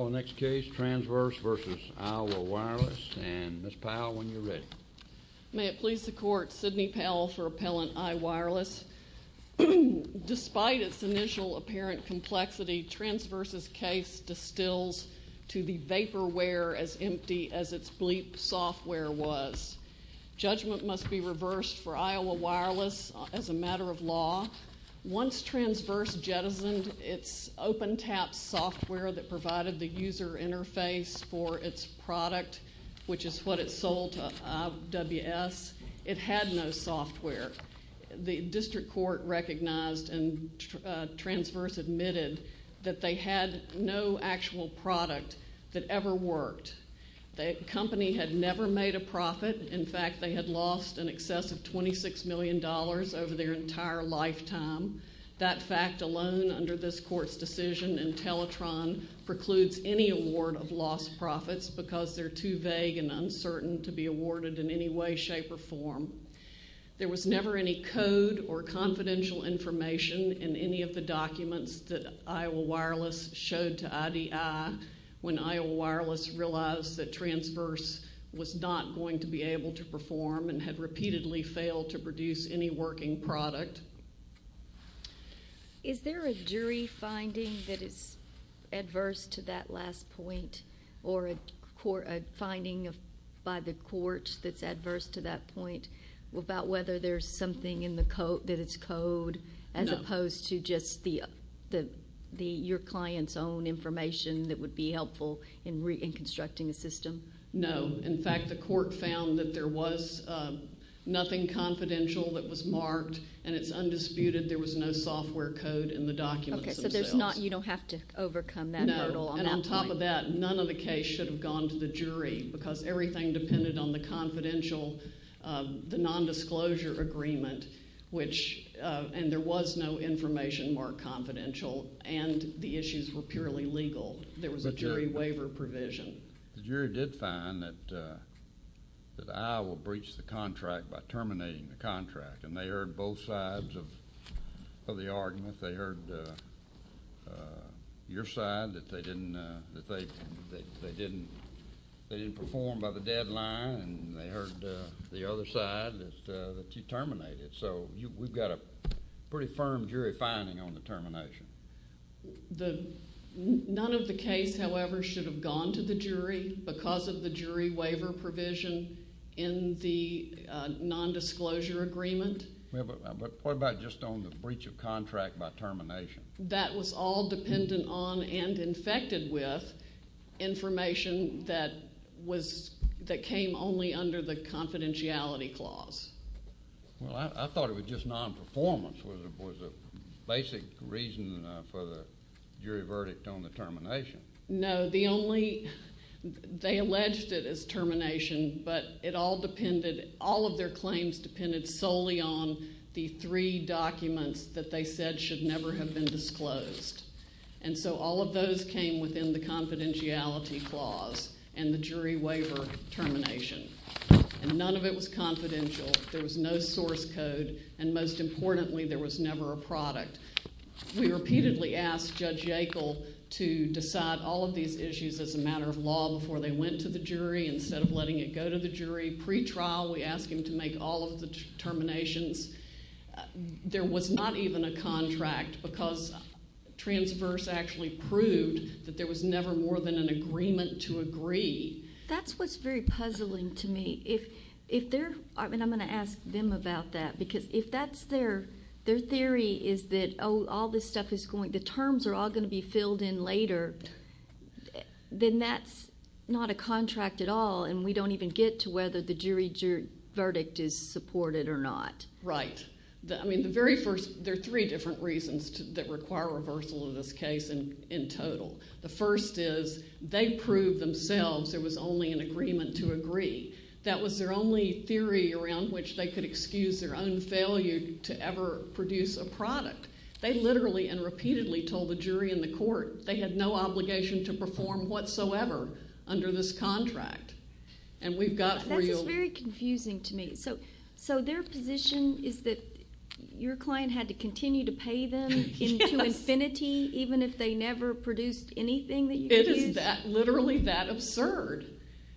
Next case, Transverse v. Iowa Wireless, and Ms. Powell, when you're ready. May it please the Court, Sidney Powell for Appellant I, Wireless. Despite its initial apparent complexity, Transverse's case distills to the vaporware as empty as its bleep software was. Judgment must be reversed for Iowa Wireless as a matter of law. Once Transverse jettisoned its OpenTAP software that provided the user interface for its product, which is what it sold to IWS, it had no software. The district court recognized and Transverse admitted that they had no actual product that ever worked. The company had never made a profit. In fact, they had lost in excess of $26 million over their entire lifetime. That fact alone under this Court's decision in Teletron precludes any award of lost profits because they're too vague and uncertain to be awarded in any way, shape, or form. There was never any code or confidential information in any of the documents that Iowa Wireless showed to IDI when Iowa Wireless realized that Transverse was not going to be able to perform and had repeatedly failed to produce any working product. Is there a jury finding that is adverse to that last point or a finding by the court that's adverse to that point about whether there's something that is code as opposed to just your client's own information that would be helpful in constructing a system? No. In fact, the court found that there was nothing confidential that was marked, and it's undisputed there was no software code in the documents themselves. Okay, so you don't have to overcome that hurdle on that point. No, and on top of that, none of the case should have gone to the jury because everything depended on the confidential, the nondisclosure agreement, and there was no information marked confidential, and the issues were purely legal. There was a jury waiver provision. The jury did find that Iowa breached the contract by terminating the contract, and they heard both sides of the argument. They heard your side that they didn't perform by the deadline, and they heard the other side that you terminated, so we've got a pretty firm jury finding on the termination. None of the case, however, should have gone to the jury because of the jury waiver provision in the nondisclosure agreement. What about just on the breach of contract by termination? That was all dependent on and infected with information that came only under the confidentiality clause. Well, I thought it was just nonperformance was the basic reason for the jury verdict on the termination. No, the only—they alleged it as termination, but it all depended—all of their claims depended solely on the three documents that they said should never have been disclosed, and so all of those came within the confidentiality clause and the jury waiver termination, and none of it was confidential. There was no source code, and most importantly, there was never a product. We repeatedly asked Judge Yackel to decide all of these issues as a matter of law before they went to the jury instead of letting it go to the jury. Pre-trial, we asked him to make all of the terminations. There was not even a contract because transverse actually proved that there was never more than an agreement to agree. That's what's very puzzling to me. If they're—I mean, I'm going to ask them about that because if that's their theory is that, oh, all this stuff is going—the terms are all going to be filled in later, then that's not a contract at all, and we don't even get to whether the jury verdict is supported or not. Right. I mean, the very first—there are three different reasons that require reversal of this case in total. The first is they proved themselves there was only an agreement to agree. That was their only theory around which they could excuse their own failure to ever produce a product. They literally and repeatedly told the jury and the court they had no obligation to perform whatsoever under this contract. And we've got real— That's very confusing to me. So their position is that your client had to continue to pay them into infinity even if they never produced anything that you produced? It is literally that absurd.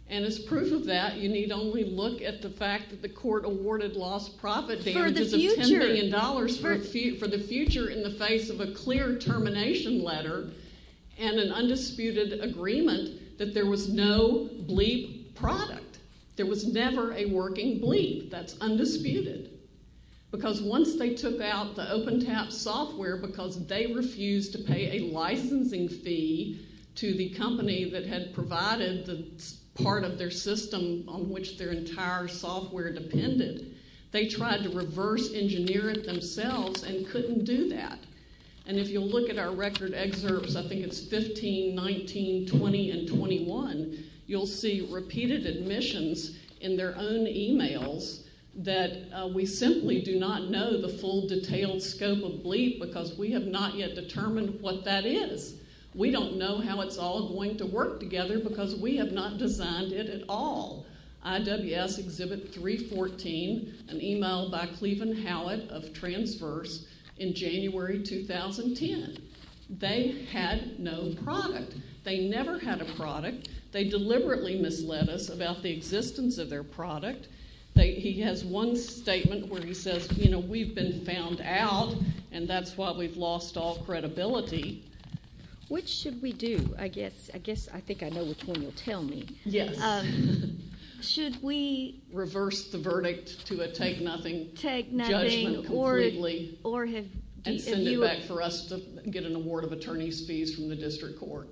And as proof of that, you need only look at the fact that the court awarded lost profit damages of $10 million for the future. In the face of a clear termination letter and an undisputed agreement that there was no bleep product. There was never a working bleep. That's undisputed. Because once they took out the OpenTAP software because they refused to pay a licensing fee to the company that had provided the part of their system on which their entire software depended, they tried to reverse engineer it themselves and couldn't do that. And if you'll look at our record excerpts, I think it's 15, 19, 20, and 21, you'll see repeated admissions in their own emails that we simply do not know the full detailed scope of bleep because we have not yet determined what that is. We don't know how it's all going to work together because we have not designed it at all. IWS Exhibit 314, an email by Cleveland Howitt of Transverse in January 2010. They had no product. They never had a product. They deliberately misled us about the existence of their product. He has one statement where he says, you know, we've been found out and that's why we've lost all credibility. Which should we do? I guess I think I know which one you'll tell me. Yes. Should we reverse the verdict to a take nothing judgment completely and send it back for us to get an award of attorney's fees from the district court?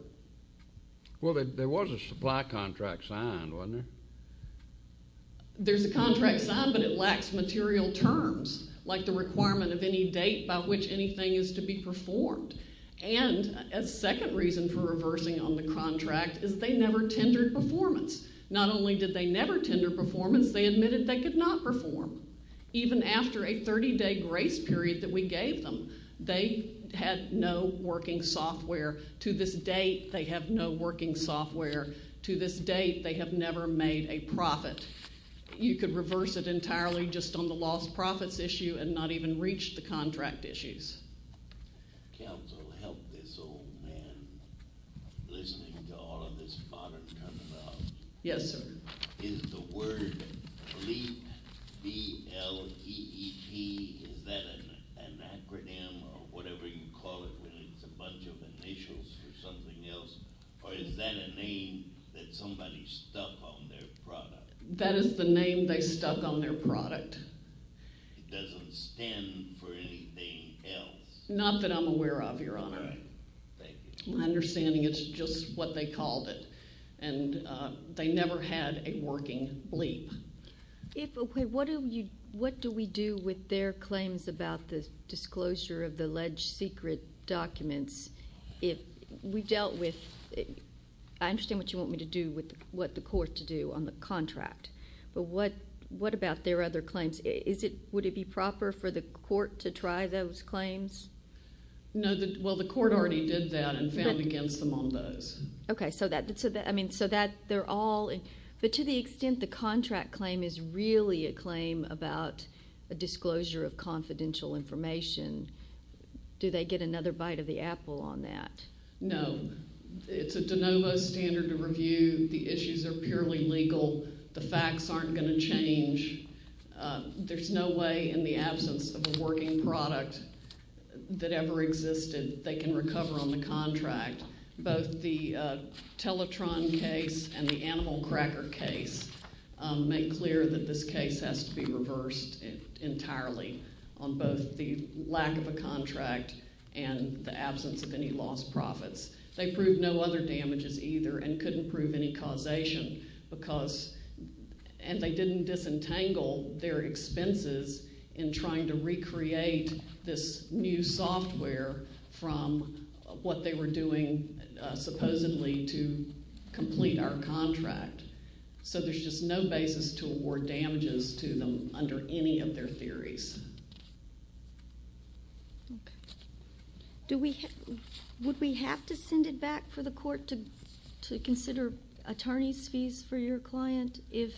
Well, there was a supply contract signed, wasn't there? There's a contract signed, but it lacks material terms like the requirement of any date by which anything is to be performed. And a second reason for reversing on the contract is they never tendered performance. Not only did they never tender performance, they admitted they could not perform. Even after a 30-day grace period that we gave them, they had no working software. To this date, they have no working software. To this date, they have never made a profit. You could reverse it entirely just on the lost profits issue and not even reach the contract issues. Counsel, help this old man listening to all of this bother coming up. Yes, sir. Is the word BLEEP, B-L-E-E-P, is that an acronym or whatever you call it when it's a bunch of initials for something else? Or is that a name that somebody stuck on their product? That is the name they stuck on their product. It doesn't stand for anything else. Not that I'm aware of, Your Honor. All right. Thank you. My understanding is it's just what they called it, and they never had a working BLEEP. What do we do with their claims about the disclosure of the alleged secret documents? We dealt with – I understand what you want me to do with what the court to do on the contract, but what about their other claims? Would it be proper for the court to try those claims? No. Well, the court already did that and found against them on those. Okay. So that they're all – but to the extent the contract claim is really a claim about a disclosure of confidential information, do they get another bite of the apple on that? No. It's a de novo standard of review. The issues are purely legal. The facts aren't going to change. There's no way in the absence of a working product that ever existed they can recover on the contract. Both the Teletron case and the Animal Cracker case make clear that this case has to be reversed entirely on both the lack of a contract and the absence of any lost profits. They proved no other damages either and couldn't prove any causation because – and they didn't disentangle their expenses in trying to recreate this new software from what they were doing supposedly to complete our contract. So there's just no basis to award damages to them under any of their theories. Okay. Would we have to send it back for the court to consider attorney's fees for your client if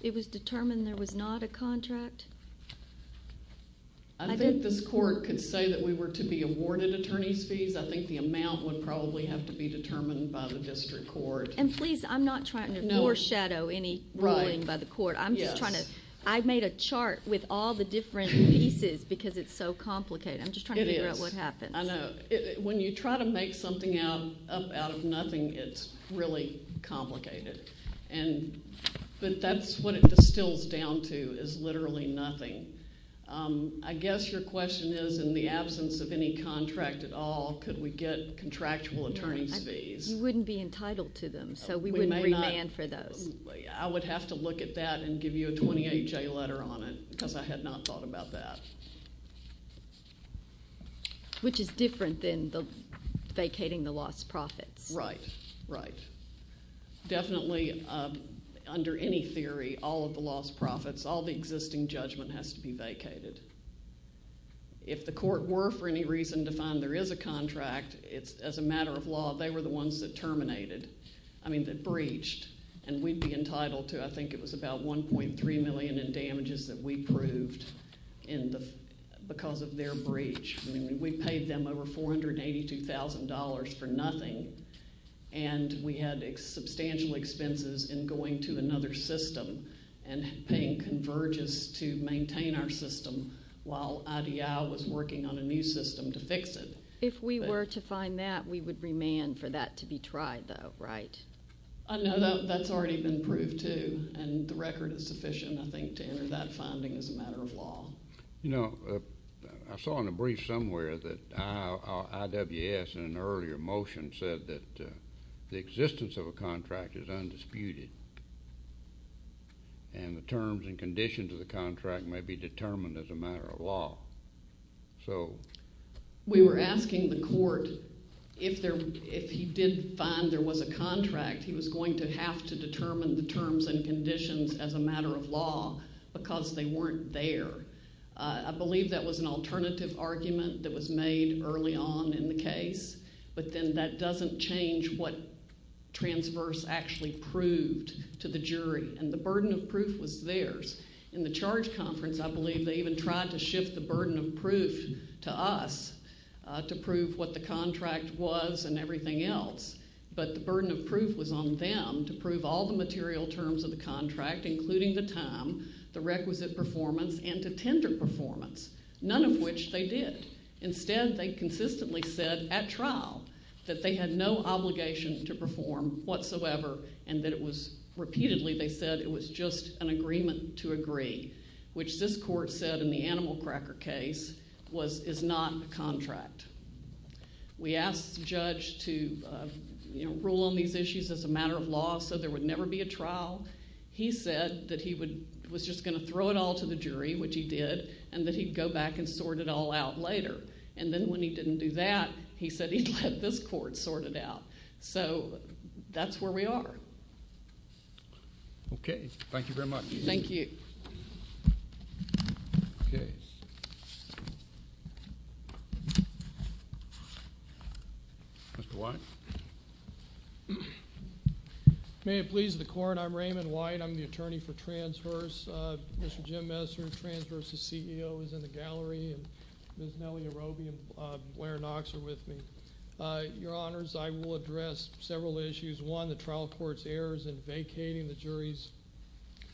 it was determined there was not a contract? I think this court could say that we were to be awarded attorney's fees. I think the amount would probably have to be determined by the district court. And please, I'm not trying to foreshadow any ruling by the court. I'm just trying to – I made a chart with all the different pieces because it's so complicated. I'm just trying to figure out what happens. It is. I know. When you try to make something up out of nothing, it's really complicated. But that's what it distills down to is literally nothing. I guess your question is in the absence of any contract at all, could we get contractual attorney's fees? You wouldn't be entitled to them, so we wouldn't remand for those. I would have to look at that and give you a 28-J letter on it because I had not thought about that. Which is different than vacating the lost profits. Right, right. Definitely, under any theory, all of the lost profits, all the existing judgment has to be vacated. If the court were for any reason to find there is a contract, as a matter of law, they were the ones that terminated – I mean that breached. And we'd be entitled to – I think it was about $1.3 million in damages that we proved because of their breach. I mean we paid them over $482,000 for nothing, and we had substantial expenses in going to another system and paying converges to maintain our system while IDL was working on a new system to fix it. If we were to find that, we would remand for that to be tried though, right? No, that's already been proved too, and the record is sufficient, I think, to enter that finding as a matter of law. You know, I saw in a brief somewhere that IWS in an earlier motion said that the existence of a contract is undisputed, and the terms and conditions of the contract may be determined as a matter of law. We were asking the court if he did find there was a contract, he was going to have to determine the terms and conditions as a matter of law because they weren't there. I believe that was an alternative argument that was made early on in the case, but then that doesn't change what transverse actually proved to the jury, and the burden of proof was theirs. In the charge conference, I believe they even tried to shift the burden of proof to us to prove what the contract was and everything else, but the burden of proof was on them to prove all the material terms of the contract, including the time, the requisite performance, and to tender performance, none of which they did. Instead, they consistently said at trial that they had no obligation to perform whatsoever and that it was repeatedly they said it was just an agreement to agree, which this court said in the Animal Cracker case is not a contract. We asked the judge to rule on these issues as a matter of law so there would never be a trial. He said that he was just going to throw it all to the jury, which he did, and that he'd go back and sort it all out later, and then when he didn't do that, he said he'd let this court sort it out. So that's where we are. Okay. Thank you very much. Thank you. Okay. Mr. White. May it please the Court, I'm Raymond White. I'm the attorney for transverse. Mr. Jim Messer, transverse's CEO, is in the gallery, and Ms. Nellie Arobi and Blair Knox are with me. Your Honors, I will address several issues. One, the trial court's errors in vacating the jury's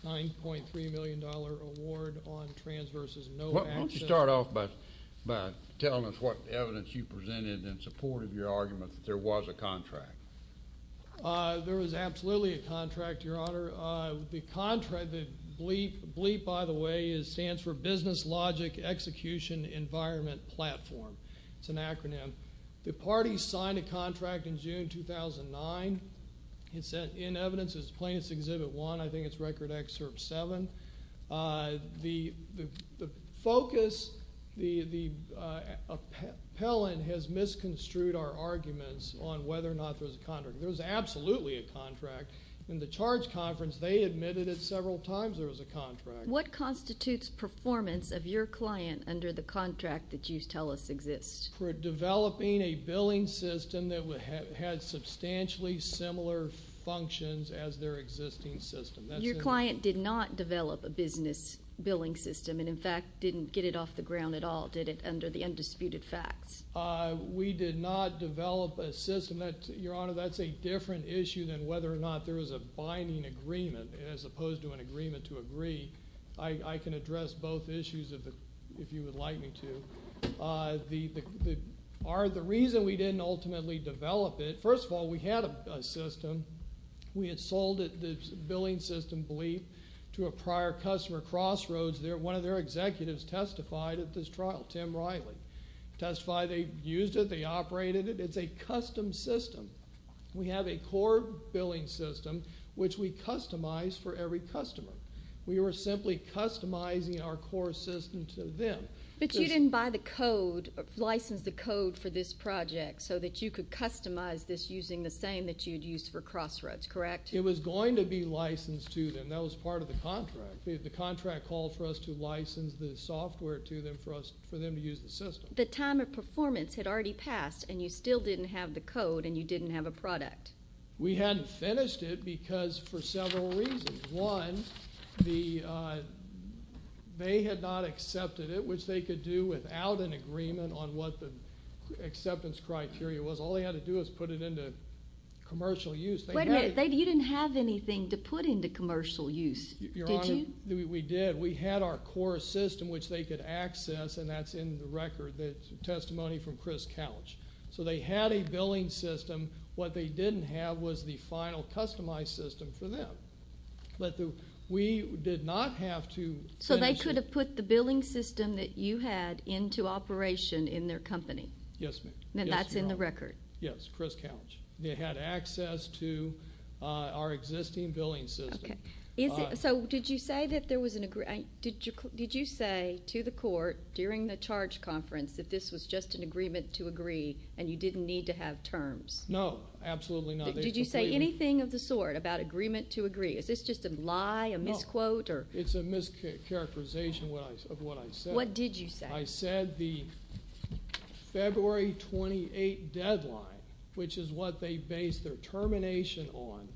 $9.3 million award on transverse's no action. Why don't you start off by telling us what evidence you presented in support of your argument that there was a contract? There was absolutely a contract, Your Honor. The contract, the BLEEP, by the way, stands for Business Logic Execution Environment Platform. It's an acronym. The parties signed a contract in June 2009. It's in evidence. It's plaintiff's Exhibit 1. I think it's Record Excerpt 7. The focus, the appellant has misconstrued our arguments on whether or not there was a contract. There was absolutely a contract. In the charge conference, they admitted it several times there was a contract. What constitutes performance of your client under the contract that you tell us exists? For developing a billing system that had substantially similar functions as their existing system. Your client did not develop a business billing system and, in fact, didn't get it off the ground at all, did it, under the undisputed facts? We did not develop a system. Your Honor, that's a different issue than whether or not there was a binding agreement as opposed to an agreement to agree. I can address both issues if you would like me to. The reason we didn't ultimately develop it, first of all, we had a system. We had sold the billing system, BLEEP, to a prior customer, Crossroads. One of their executives testified at this trial, Tim Riley, testified they used it. They operated it. It's a custom system. We have a core billing system which we customize for every customer. We were simply customizing our core system to them. But you didn't buy the code, license the code for this project so that you could customize this using the same that you'd use for Crossroads, correct? It was going to be licensed to them. That was part of the contract. The contract called for us to license the software to them for them to use the system. But the time of performance had already passed, and you still didn't have the code, and you didn't have a product. We hadn't finished it because for several reasons. One, they had not accepted it, which they could do without an agreement on what the acceptance criteria was. All they had to do was put it into commercial use. Wait a minute. You didn't have anything to put into commercial use, did you? Your Honor, we did. We had our core system, which they could access, and that's in the record, the testimony from Chris Couch. So they had a billing system. What they didn't have was the final customized system for them. But we did not have to finish it. So they could have put the billing system that you had into operation in their company? Yes, ma'am. And that's in the record? Yes, Chris Couch. They had access to our existing billing system. So did you say to the court during the charge conference that this was just an agreement to agree and you didn't need to have terms? No, absolutely not. Did you say anything of the sort about agreement to agree? Is this just a lie, a misquote? It's a mischaracterization of what I said. What did you say? I said the February 28 deadline, which is what they based their termination on.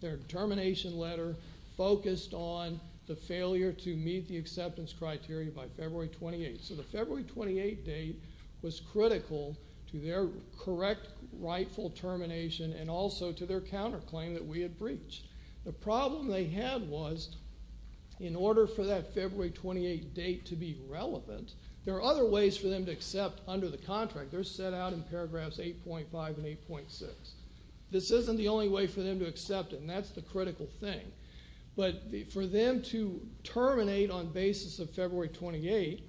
Their termination letter focused on the failure to meet the acceptance criteria by February 28. So the February 28 date was critical to their correct rightful termination and also to their counterclaim that we had breached. The problem they had was in order for that February 28 date to be relevant, there are other ways for them to accept under the contract. They're set out in paragraphs 8.5 and 8.6. This isn't the only way for them to accept it, and that's the critical thing. But for them to terminate on basis of February 28,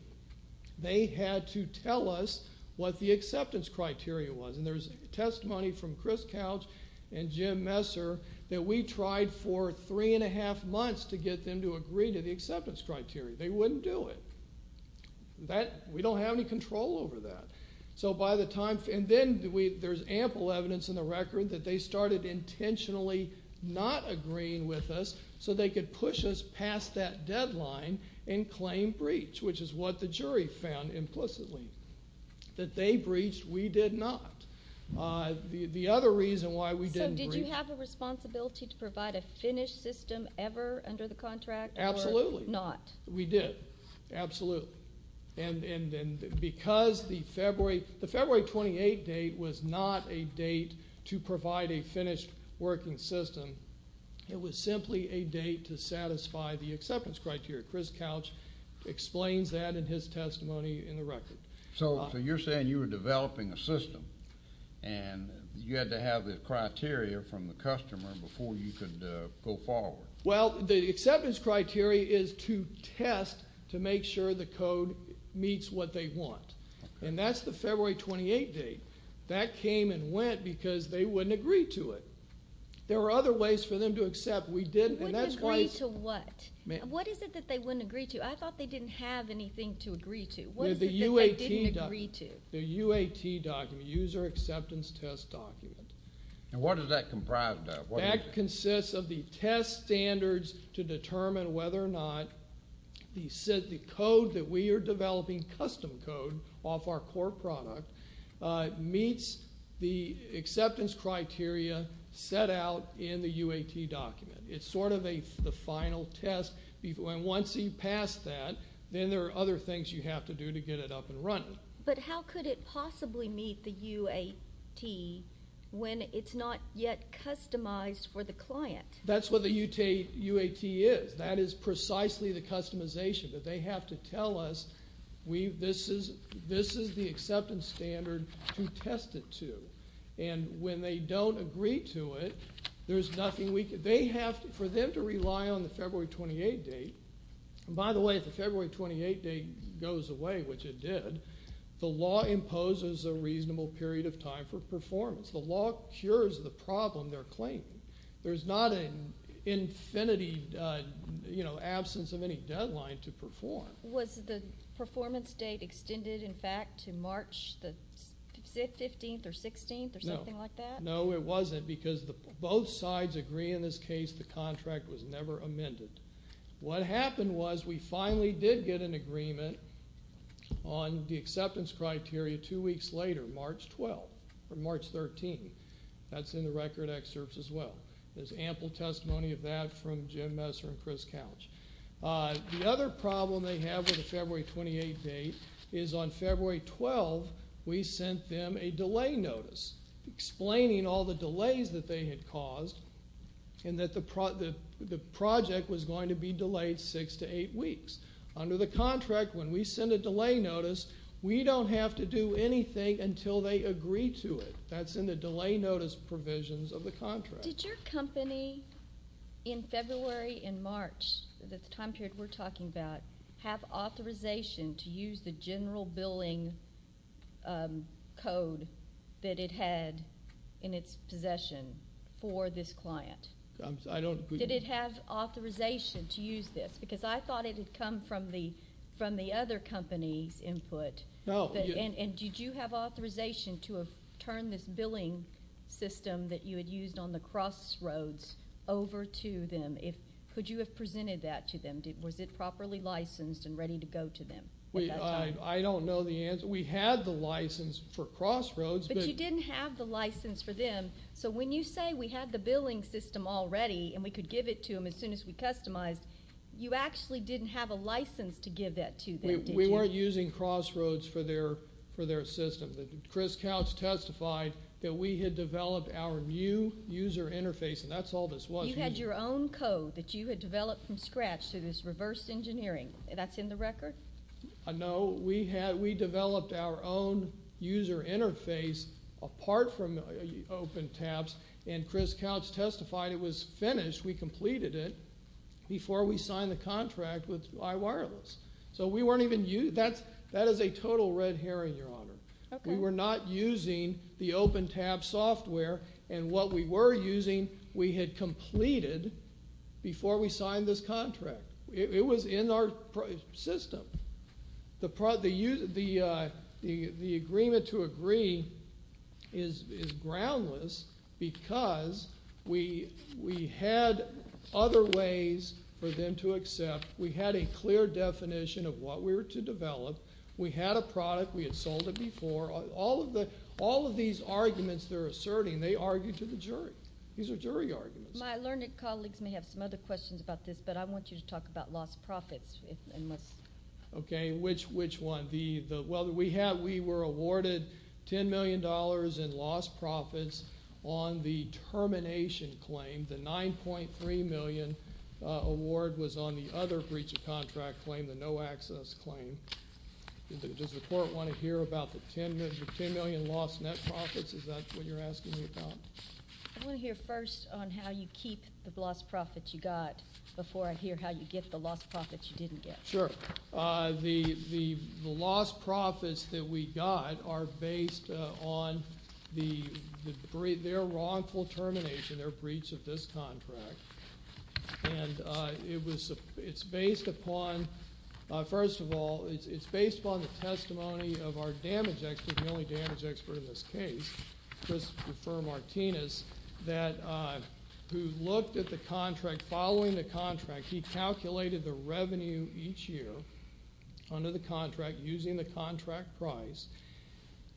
they had to tell us what the acceptance criteria was. And there's testimony from Chris Couch and Jim Messer that we tried for three and a half months to get them to agree to the acceptance criteria. They wouldn't do it. We don't have any control over that. And then there's ample evidence in the record that they started intentionally not agreeing with us so they could push us past that deadline and claim breach, which is what the jury found implicitly. That they breached, we did not. The other reason why we didn't breach. So did you have a responsibility to provide a finished system ever under the contract or not? Absolutely. We did. Absolutely. And because the February 28 date was not a date to provide a finished working system. It was simply a date to satisfy the acceptance criteria. Chris Couch explains that in his testimony in the record. So you're saying you were developing a system and you had to have the criteria from the customer before you could go forward. Well, the acceptance criteria is to test to make sure the code meets what they want. And that's the February 28 date. That came and went because they wouldn't agree to it. There were other ways for them to accept. We didn't, and that's why. Wouldn't agree to what? What is it that they wouldn't agree to? I thought they didn't have anything to agree to. What is it that they didn't agree to? The UAT document, user acceptance test document. And what is that comprised of? That consists of the test standards to determine whether or not the code that we are developing, custom code off our core product, meets the acceptance criteria set out in the UAT document. It's sort of the final test. And once you pass that, then there are other things you have to do to get it up and running. But how could it possibly meet the UAT when it's not yet customized for the client? That's what the UAT is. That is precisely the customization that they have to tell us this is the acceptance standard to test it to. And when they don't agree to it, there's nothing we can do. For them to rely on the February 28 date, and by the way, if the February 28 date goes away, which it did, the law imposes a reasonable period of time for performance. The law cures the problem they're claiming. There's not an infinity, you know, absence of any deadline to perform. Was the performance date extended, in fact, to March the 15th or 16th or something like that? No, it wasn't because both sides agree in this case the contract was never amended. What happened was we finally did get an agreement on the acceptance criteria two weeks later, March 12th or March 13th. That's in the record excerpts as well. There's ample testimony of that from Jim Messer and Chris Couch. The other problem they have with the February 28 date is on February 12th we sent them a delay notice, explaining all the delays that they had caused and that the project was going to be delayed six to eight weeks. Under the contract, when we send a delay notice, we don't have to do anything until they agree to it. That's in the delay notice provisions of the contract. Did your company in February and March, the time period we're talking about, have authorization to use the general billing code that it had in its possession for this client? Did it have authorization to use this? Because I thought it had come from the other company's input. Did you have authorization to turn this billing system that you had used on the crossroads over to them? Could you have presented that to them? Was it properly licensed and ready to go to them? I don't know the answer. We had the license for crossroads. But you didn't have the license for them. So when you say we had the billing system already and we could give it to them as soon as we customized, We weren't using crossroads for their system. Chris Couch testified that we had developed our new user interface, and that's all this was. You had your own code that you had developed from scratch through this reverse engineering. That's in the record? No. We developed our own user interface apart from open tabs, and Chris Couch testified it was finished. We completed it before we signed the contract with iWireless. That is a total red herring, Your Honor. We were not using the open tab software, and what we were using we had completed before we signed this contract. It was in our system. The agreement to agree is groundless because we had other ways for them to accept. We had a clear definition of what we were to develop. We had a product. We had sold it before. All of these arguments they're asserting, they argue to the jury. These are jury arguments. My learned colleagues may have some other questions about this, but I want you to talk about lost profits. Okay, which one? Well, we were awarded $10 million in lost profits on the termination claim. The $9.3 million award was on the other breach of contract claim, the no access claim. Does the court want to hear about the $10 million lost net profits? Is that what you're asking me about? I want to hear first on how you keep the lost profits you got before I hear how you get the lost profits you didn't get. Sure. The lost profits that we got are based on their wrongful termination, their breach of this contract. And it's based upon, first of all, it's based upon the testimony of our damage expert, the only damage expert in this case, Christopher Martinez, who looked at the contract. Following the contract, he calculated the revenue each year under the contract using the contract price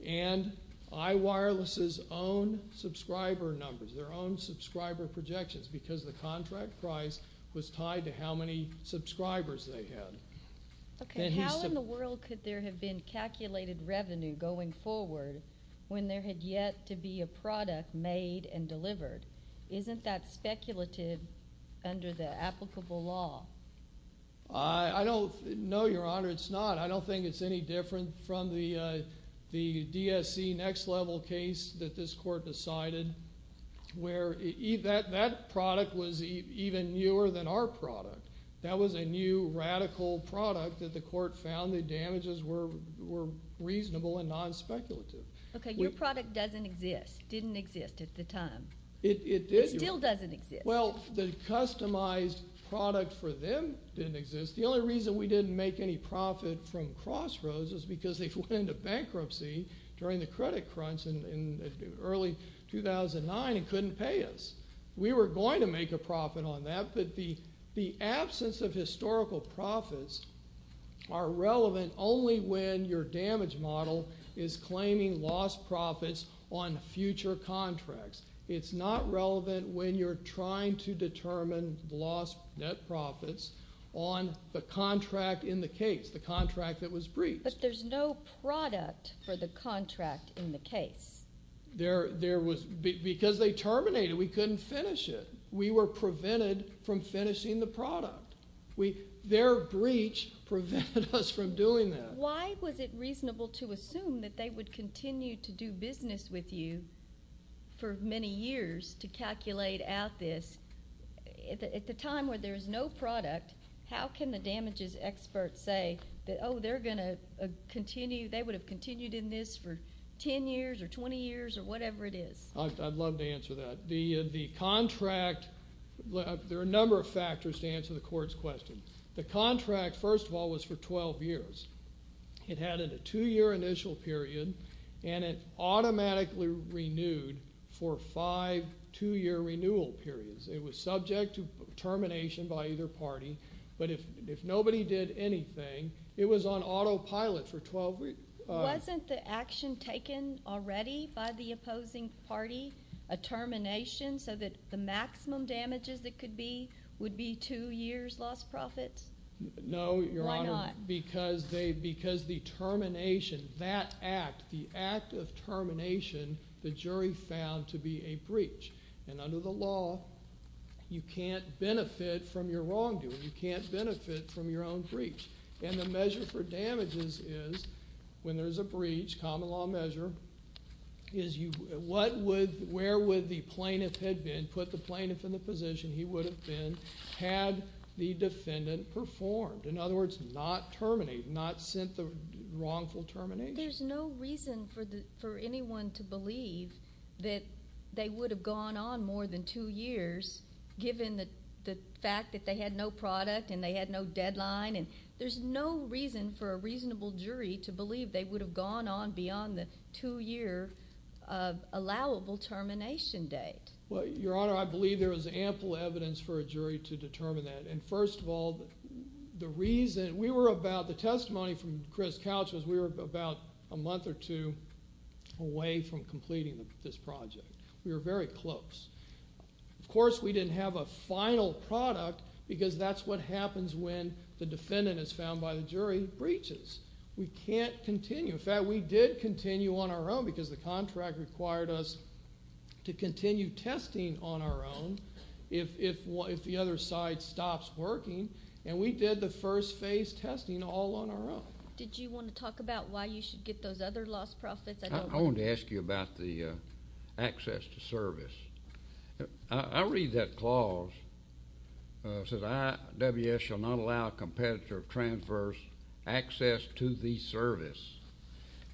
and iWireless's own subscriber numbers, their own subscriber projections because the contract price was tied to how many subscribers they had. Okay. How in the world could there have been calculated revenue going forward when there had yet to be a product made and delivered? Isn't that speculative under the applicable law? I don't – no, Your Honor, it's not. I don't think it's any different from the DSC next level case that this court decided where that product was even newer than our product. That was a new radical product that the court found the damages were reasonable and non-speculative. Okay. Your product doesn't exist, didn't exist at the time. It did. It still doesn't exist. Well, the customized product for them didn't exist. The only reason we didn't make any profit from Crossroads is because they went into bankruptcy during the credit crunch in early 2009 and couldn't pay us. We were going to make a profit on that, but the absence of historical profits are relevant only when your damage model is claiming lost profits on future contracts. It's not relevant when you're trying to determine lost net profits on the contract in the case, the contract that was breached. But there's no product for the contract in the case. There was – because they terminated, we couldn't finish it. We were prevented from finishing the product. Their breach prevented us from doing that. Why was it reasonable to assume that they would continue to do business with you for many years to calculate out this? At the time where there is no product, how can the damages experts say that, oh, they're going to continue – they would have continued in this for 10 years or 20 years or whatever it is? I'd love to answer that. The contract – there are a number of factors to answer the court's question. The contract, first of all, was for 12 years. It had a two-year initial period, and it automatically renewed for five two-year renewal periods. It was subject to termination by either party. But if nobody did anything, it was on autopilot for 12 – Wasn't the action taken already by the opposing party a termination so that the maximum damages that could be would be two years lost profits? No, Your Honor. Because they – because the termination, that act, the act of termination, the jury found to be a breach. And under the law, you can't benefit from your wrongdoing. You can't benefit from your own breach. And the measure for damages is when there's a breach, common law measure, is you – what would – where would the plaintiff have been? Put the plaintiff in the position he would have been had the defendant performed. In other words, not terminate, not sent the wrongful termination. There's no reason for anyone to believe that they would have gone on more than two years given the fact that they had no product and they had no deadline. And there's no reason for a reasonable jury to believe they would have gone on beyond the two-year allowable termination date. Well, Your Honor, I believe there is ample evidence for a jury to determine that. And first of all, the reason – we were about – the testimony from Chris Couch was we were about a month or two away from completing this project. We were very close. Of course, we didn't have a final product because that's what happens when the defendant is found by the jury breaches. We can't continue. In fact, we did continue on our own because the contract required us to continue testing on our own if the other side stops working. And we did the first phase testing all on our own. Did you want to talk about why you should get those other lost profits? I wanted to ask you about the access to service. I read that clause. It says IWS shall not allow a competitor of transverse access to the service.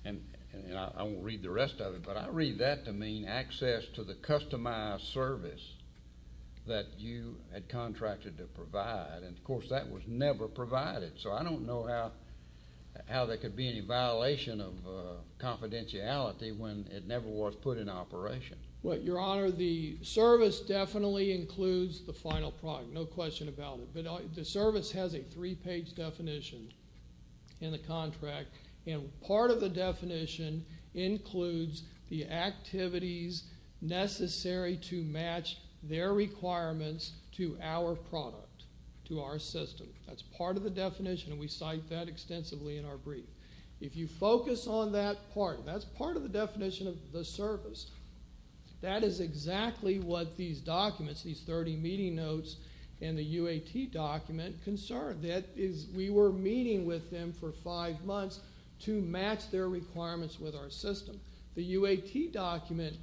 And I won't read the rest of it, but I read that to mean access to the customized service that you had contracted to provide. And, of course, that was never provided. So I don't know how there could be any violation of confidentiality when it never was put in operation. Well, Your Honor, the service definitely includes the final product, no question about it. But the service has a three-page definition in the contract. And part of the definition includes the activities necessary to match their requirements to our product, to our system. That's part of the definition, and we cite that extensively in our brief. If you focus on that part, that's part of the definition of the service. That is exactly what these documents, these 30 meeting notes and the UAT document concern. That is we were meeting with them for five months to match their requirements with our system. The UAT document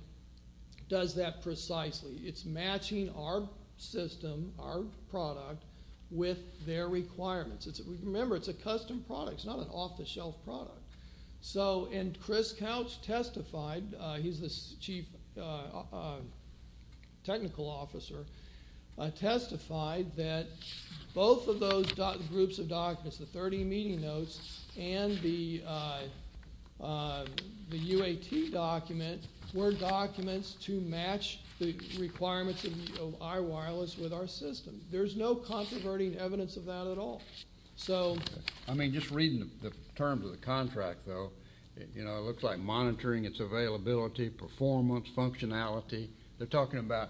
does that precisely. It's matching our system, our product, with their requirements. Remember, it's a custom product. It's not an off-the-shelf product. And Chris Couch testified, he's the chief technical officer, testified that both of those groups of documents, the 30 meeting notes and the UAT document, were documents to match the requirements of our wireless with our system. There's no controverting evidence of that at all. I mean, just reading the terms of the contract, though, it looks like monitoring, it's availability, performance, functionality. They're talking about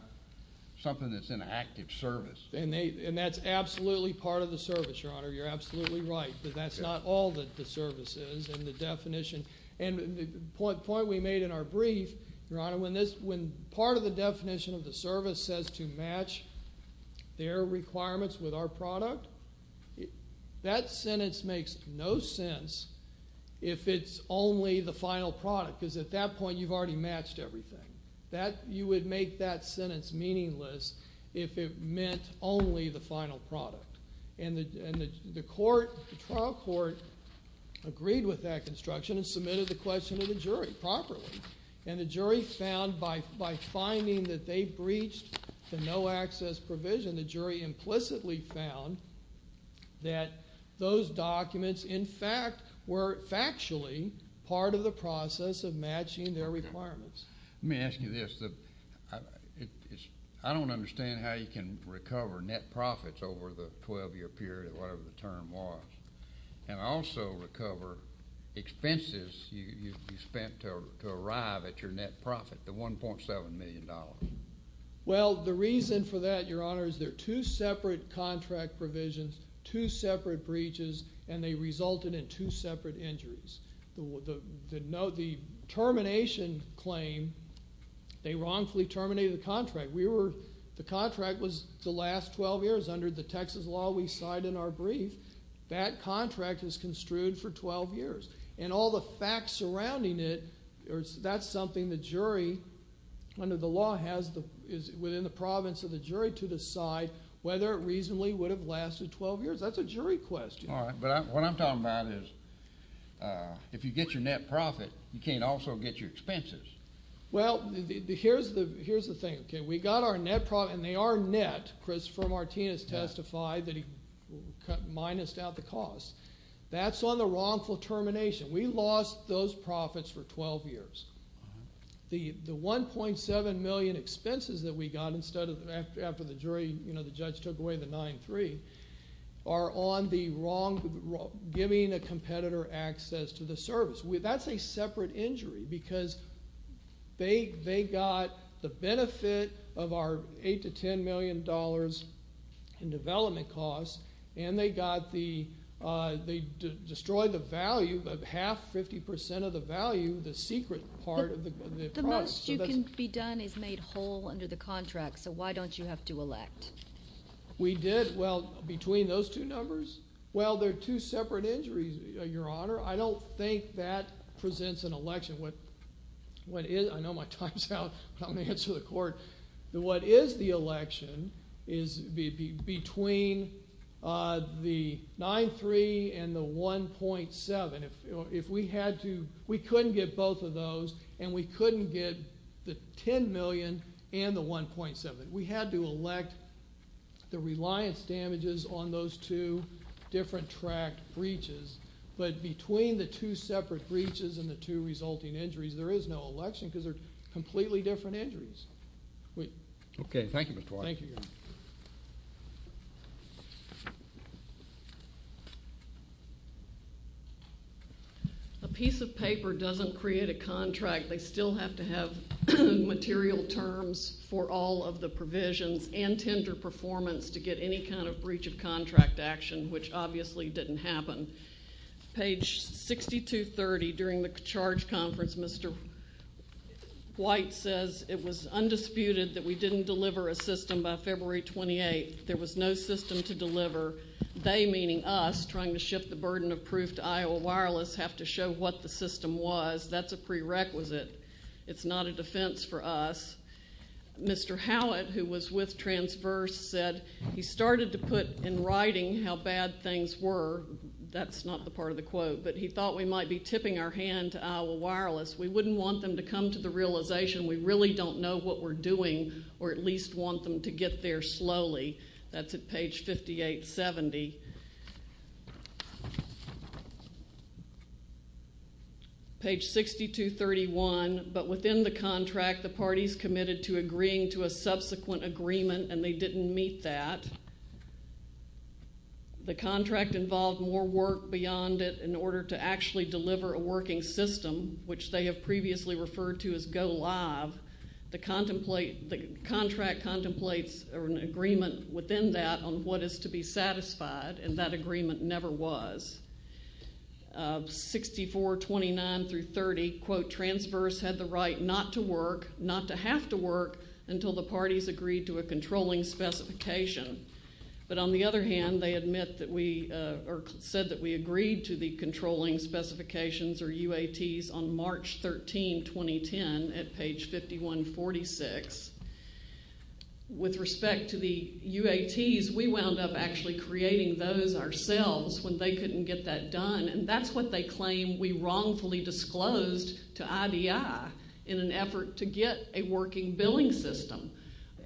something that's an active service. And that's absolutely part of the service, Your Honor. You're absolutely right that that's not all that the service is and the definition. And the point we made in our brief, Your Honor, when part of the definition of the service says to match their requirements with our product, that sentence makes no sense if it's only the final product because at that point you've already matched everything. You would make that sentence meaningless if it meant only the final product. And the trial court agreed with that construction and submitted the question to the jury properly. And the jury found by finding that they breached the no-access provision, the jury implicitly found that those documents, in fact, were factually part of the process of matching their requirements. Let me ask you this. I don't understand how you can recover net profits over the 12-year period, whatever the term was, and also recover expenses you spent to arrive at your net profit, the $1.7 million. Well, the reason for that, Your Honor, is there are two separate contract provisions, two separate breaches, and they resulted in two separate injuries. The termination claim, they wrongfully terminated the contract. The contract was the last 12 years under the Texas law we cite in our brief. That contract is construed for 12 years. And all the facts surrounding it, that's something the jury under the law has within the province of the jury to decide whether it reasonably would have lasted 12 years. That's a jury question. All right. But what I'm talking about is if you get your net profit, you can't also get your expenses. Well, here's the thing, okay? We got our net profit, and they are net. Christopher Martinez testified that he minused out the cost. That's on the wrongful termination. We lost those profits for 12 years. The $1.7 million expenses that we got instead of after the jury, you know, the judge took away the 9-3, are on the wrong giving a competitor access to the service. That's a separate injury because they got the benefit of our $8 million to $10 million in development costs, and they destroyed the value, half, 50% of the value, the secret part of the product. The most you can be done is made whole under the contract, so why don't you have to elect? We did. Well, between those two numbers? Well, they're two separate injuries, Your Honor. I don't think that presents an election. I know my time's out, but I'm going to answer the court. What is the election is between the 9-3 and the 1.7. If we had to, we couldn't get both of those, and we couldn't get the $10 million and the 1.7. We had to elect the reliance damages on those two different tract breaches, but between the two separate breaches and the two resulting injuries, there is no election because they're completely different injuries. Okay. Thank you, Mr. Twyford. Thank you, Your Honor. A piece of paper doesn't create a contract. They still have to have material terms for all of the provisions and tender performance to get any kind of breach of contract action, which obviously didn't happen. Page 6230, during the charge conference, Mr. White says it was undisputed that we didn't deliver a system by February 28. There was no system to deliver. They, meaning us, trying to shift the burden of proof to Iowa Wireless, have to show what the system was. That's a prerequisite. It's not a defense for us. Mr. Howitt, who was with Transverse, said he started to put in writing how bad things were. That's not the part of the quote, but he thought we might be tipping our hand to Iowa Wireless. We wouldn't want them to come to the realization we really don't know what we're doing or at least want them to get there slowly. That's at page 5870. Page 6231, but within the contract, the parties committed to agreeing to a subsequent agreement, and they didn't meet that. The contract involved more work beyond it in order to actually deliver a working system, which they have previously referred to as go live. The contract contemplates an agreement within that on what is to be satisfied, and that agreement never was. 6429 through 30, quote, Transverse had the right not to work, not to have to work, until the parties agreed to a controlling specification. But on the other hand, they admit that we or said that we agreed to the controlling specifications or UATs on March 13, 2010, at page 5146. With respect to the UATs, we wound up actually creating those ourselves when they couldn't get that done, and that's what they claim we wrongfully disclosed to IDI in an effort to get a working billing system.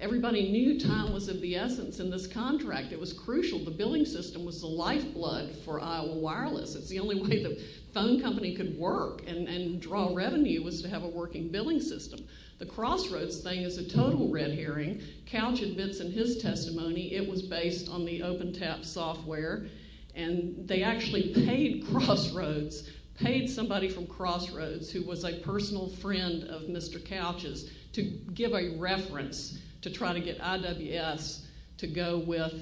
Everybody knew time was of the essence in this contract. It was crucial. The billing system was the lifeblood for Iowa Wireless. It's the only way the phone company could work and draw revenue was to have a working billing system. The Crossroads thing is a total red herring. Couch admits in his testimony it was based on the OpenTAP software, and they actually paid Crossroads, paid somebody from Crossroads who was a personal friend of Mr. Couch's, to give a reference to try to get IWS to go with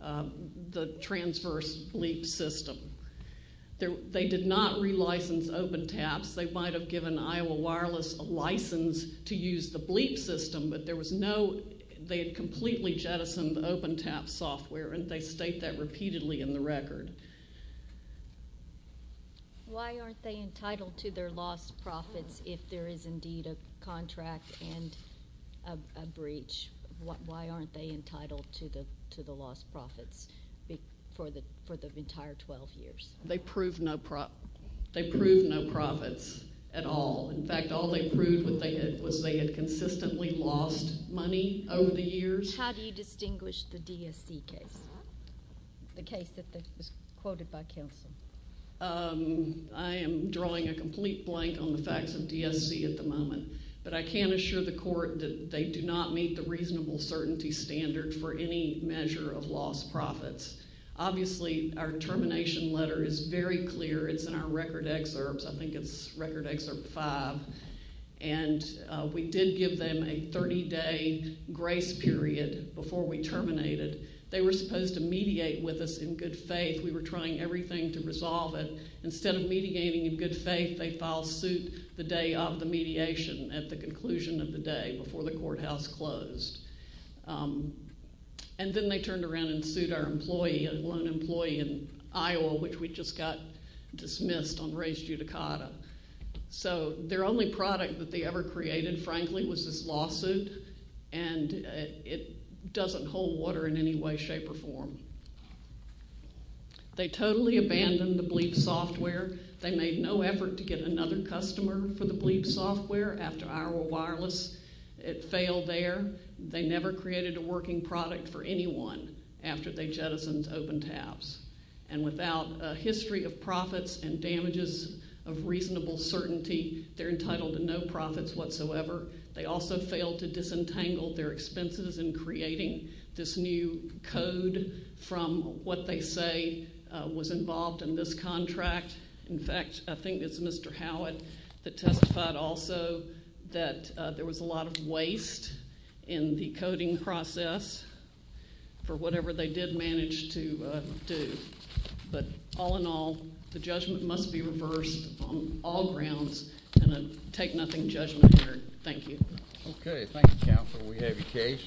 the Transverse LEAP system. They did not relicense OpenTAPs. They might have given Iowa Wireless a license to use the BLEAP system, but there was no – they had completely jettisoned the OpenTAP software, and they state that repeatedly in the record. Why aren't they entitled to their lost profits if there is indeed a contract and a breach? Why aren't they entitled to the lost profits for the entire 12 years? They proved no profits at all. In fact, all they proved was they had consistently lost money over the years. How do you distinguish the DSC case, the case that was quoted by Kelson? I am drawing a complete blank on the facts of DSC at the moment, but I can assure the court that they do not meet the reasonable certainty standard for any measure of lost profits. Obviously, our termination letter is very clear. It's in our record excerpts. I think it's Record Excerpt 5. And we did give them a 30-day grace period before we terminated. They were supposed to mediate with us in good faith. We were trying everything to resolve it. Instead of mediating in good faith, they filed suit the day of the mediation at the conclusion of the day before the courthouse closed. And then they turned around and sued our employee, a lone employee in Iowa, which we just got dismissed on res judicata. So their only product that they ever created, frankly, was this lawsuit, and it doesn't hold water in any way, shape, or form. They totally abandoned the BLEAP software. They made no effort to get another customer for the BLEAP software after Iowa Wireless. It failed there. They never created a working product for anyone after they jettisoned open tabs. And without a history of profits and damages of reasonable certainty, they're entitled to no profits whatsoever. They also failed to disentangle their expenses in creating this new code from what they say was involved in this contract. In fact, I think it's Mr. Howitt that testified also that there was a lot of waste in the coding process for whatever they did manage to do. But all in all, the judgment must be reversed on all grounds, and I take nothing of judgment here. Thank you. Okay, thank you, counsel. We have your case.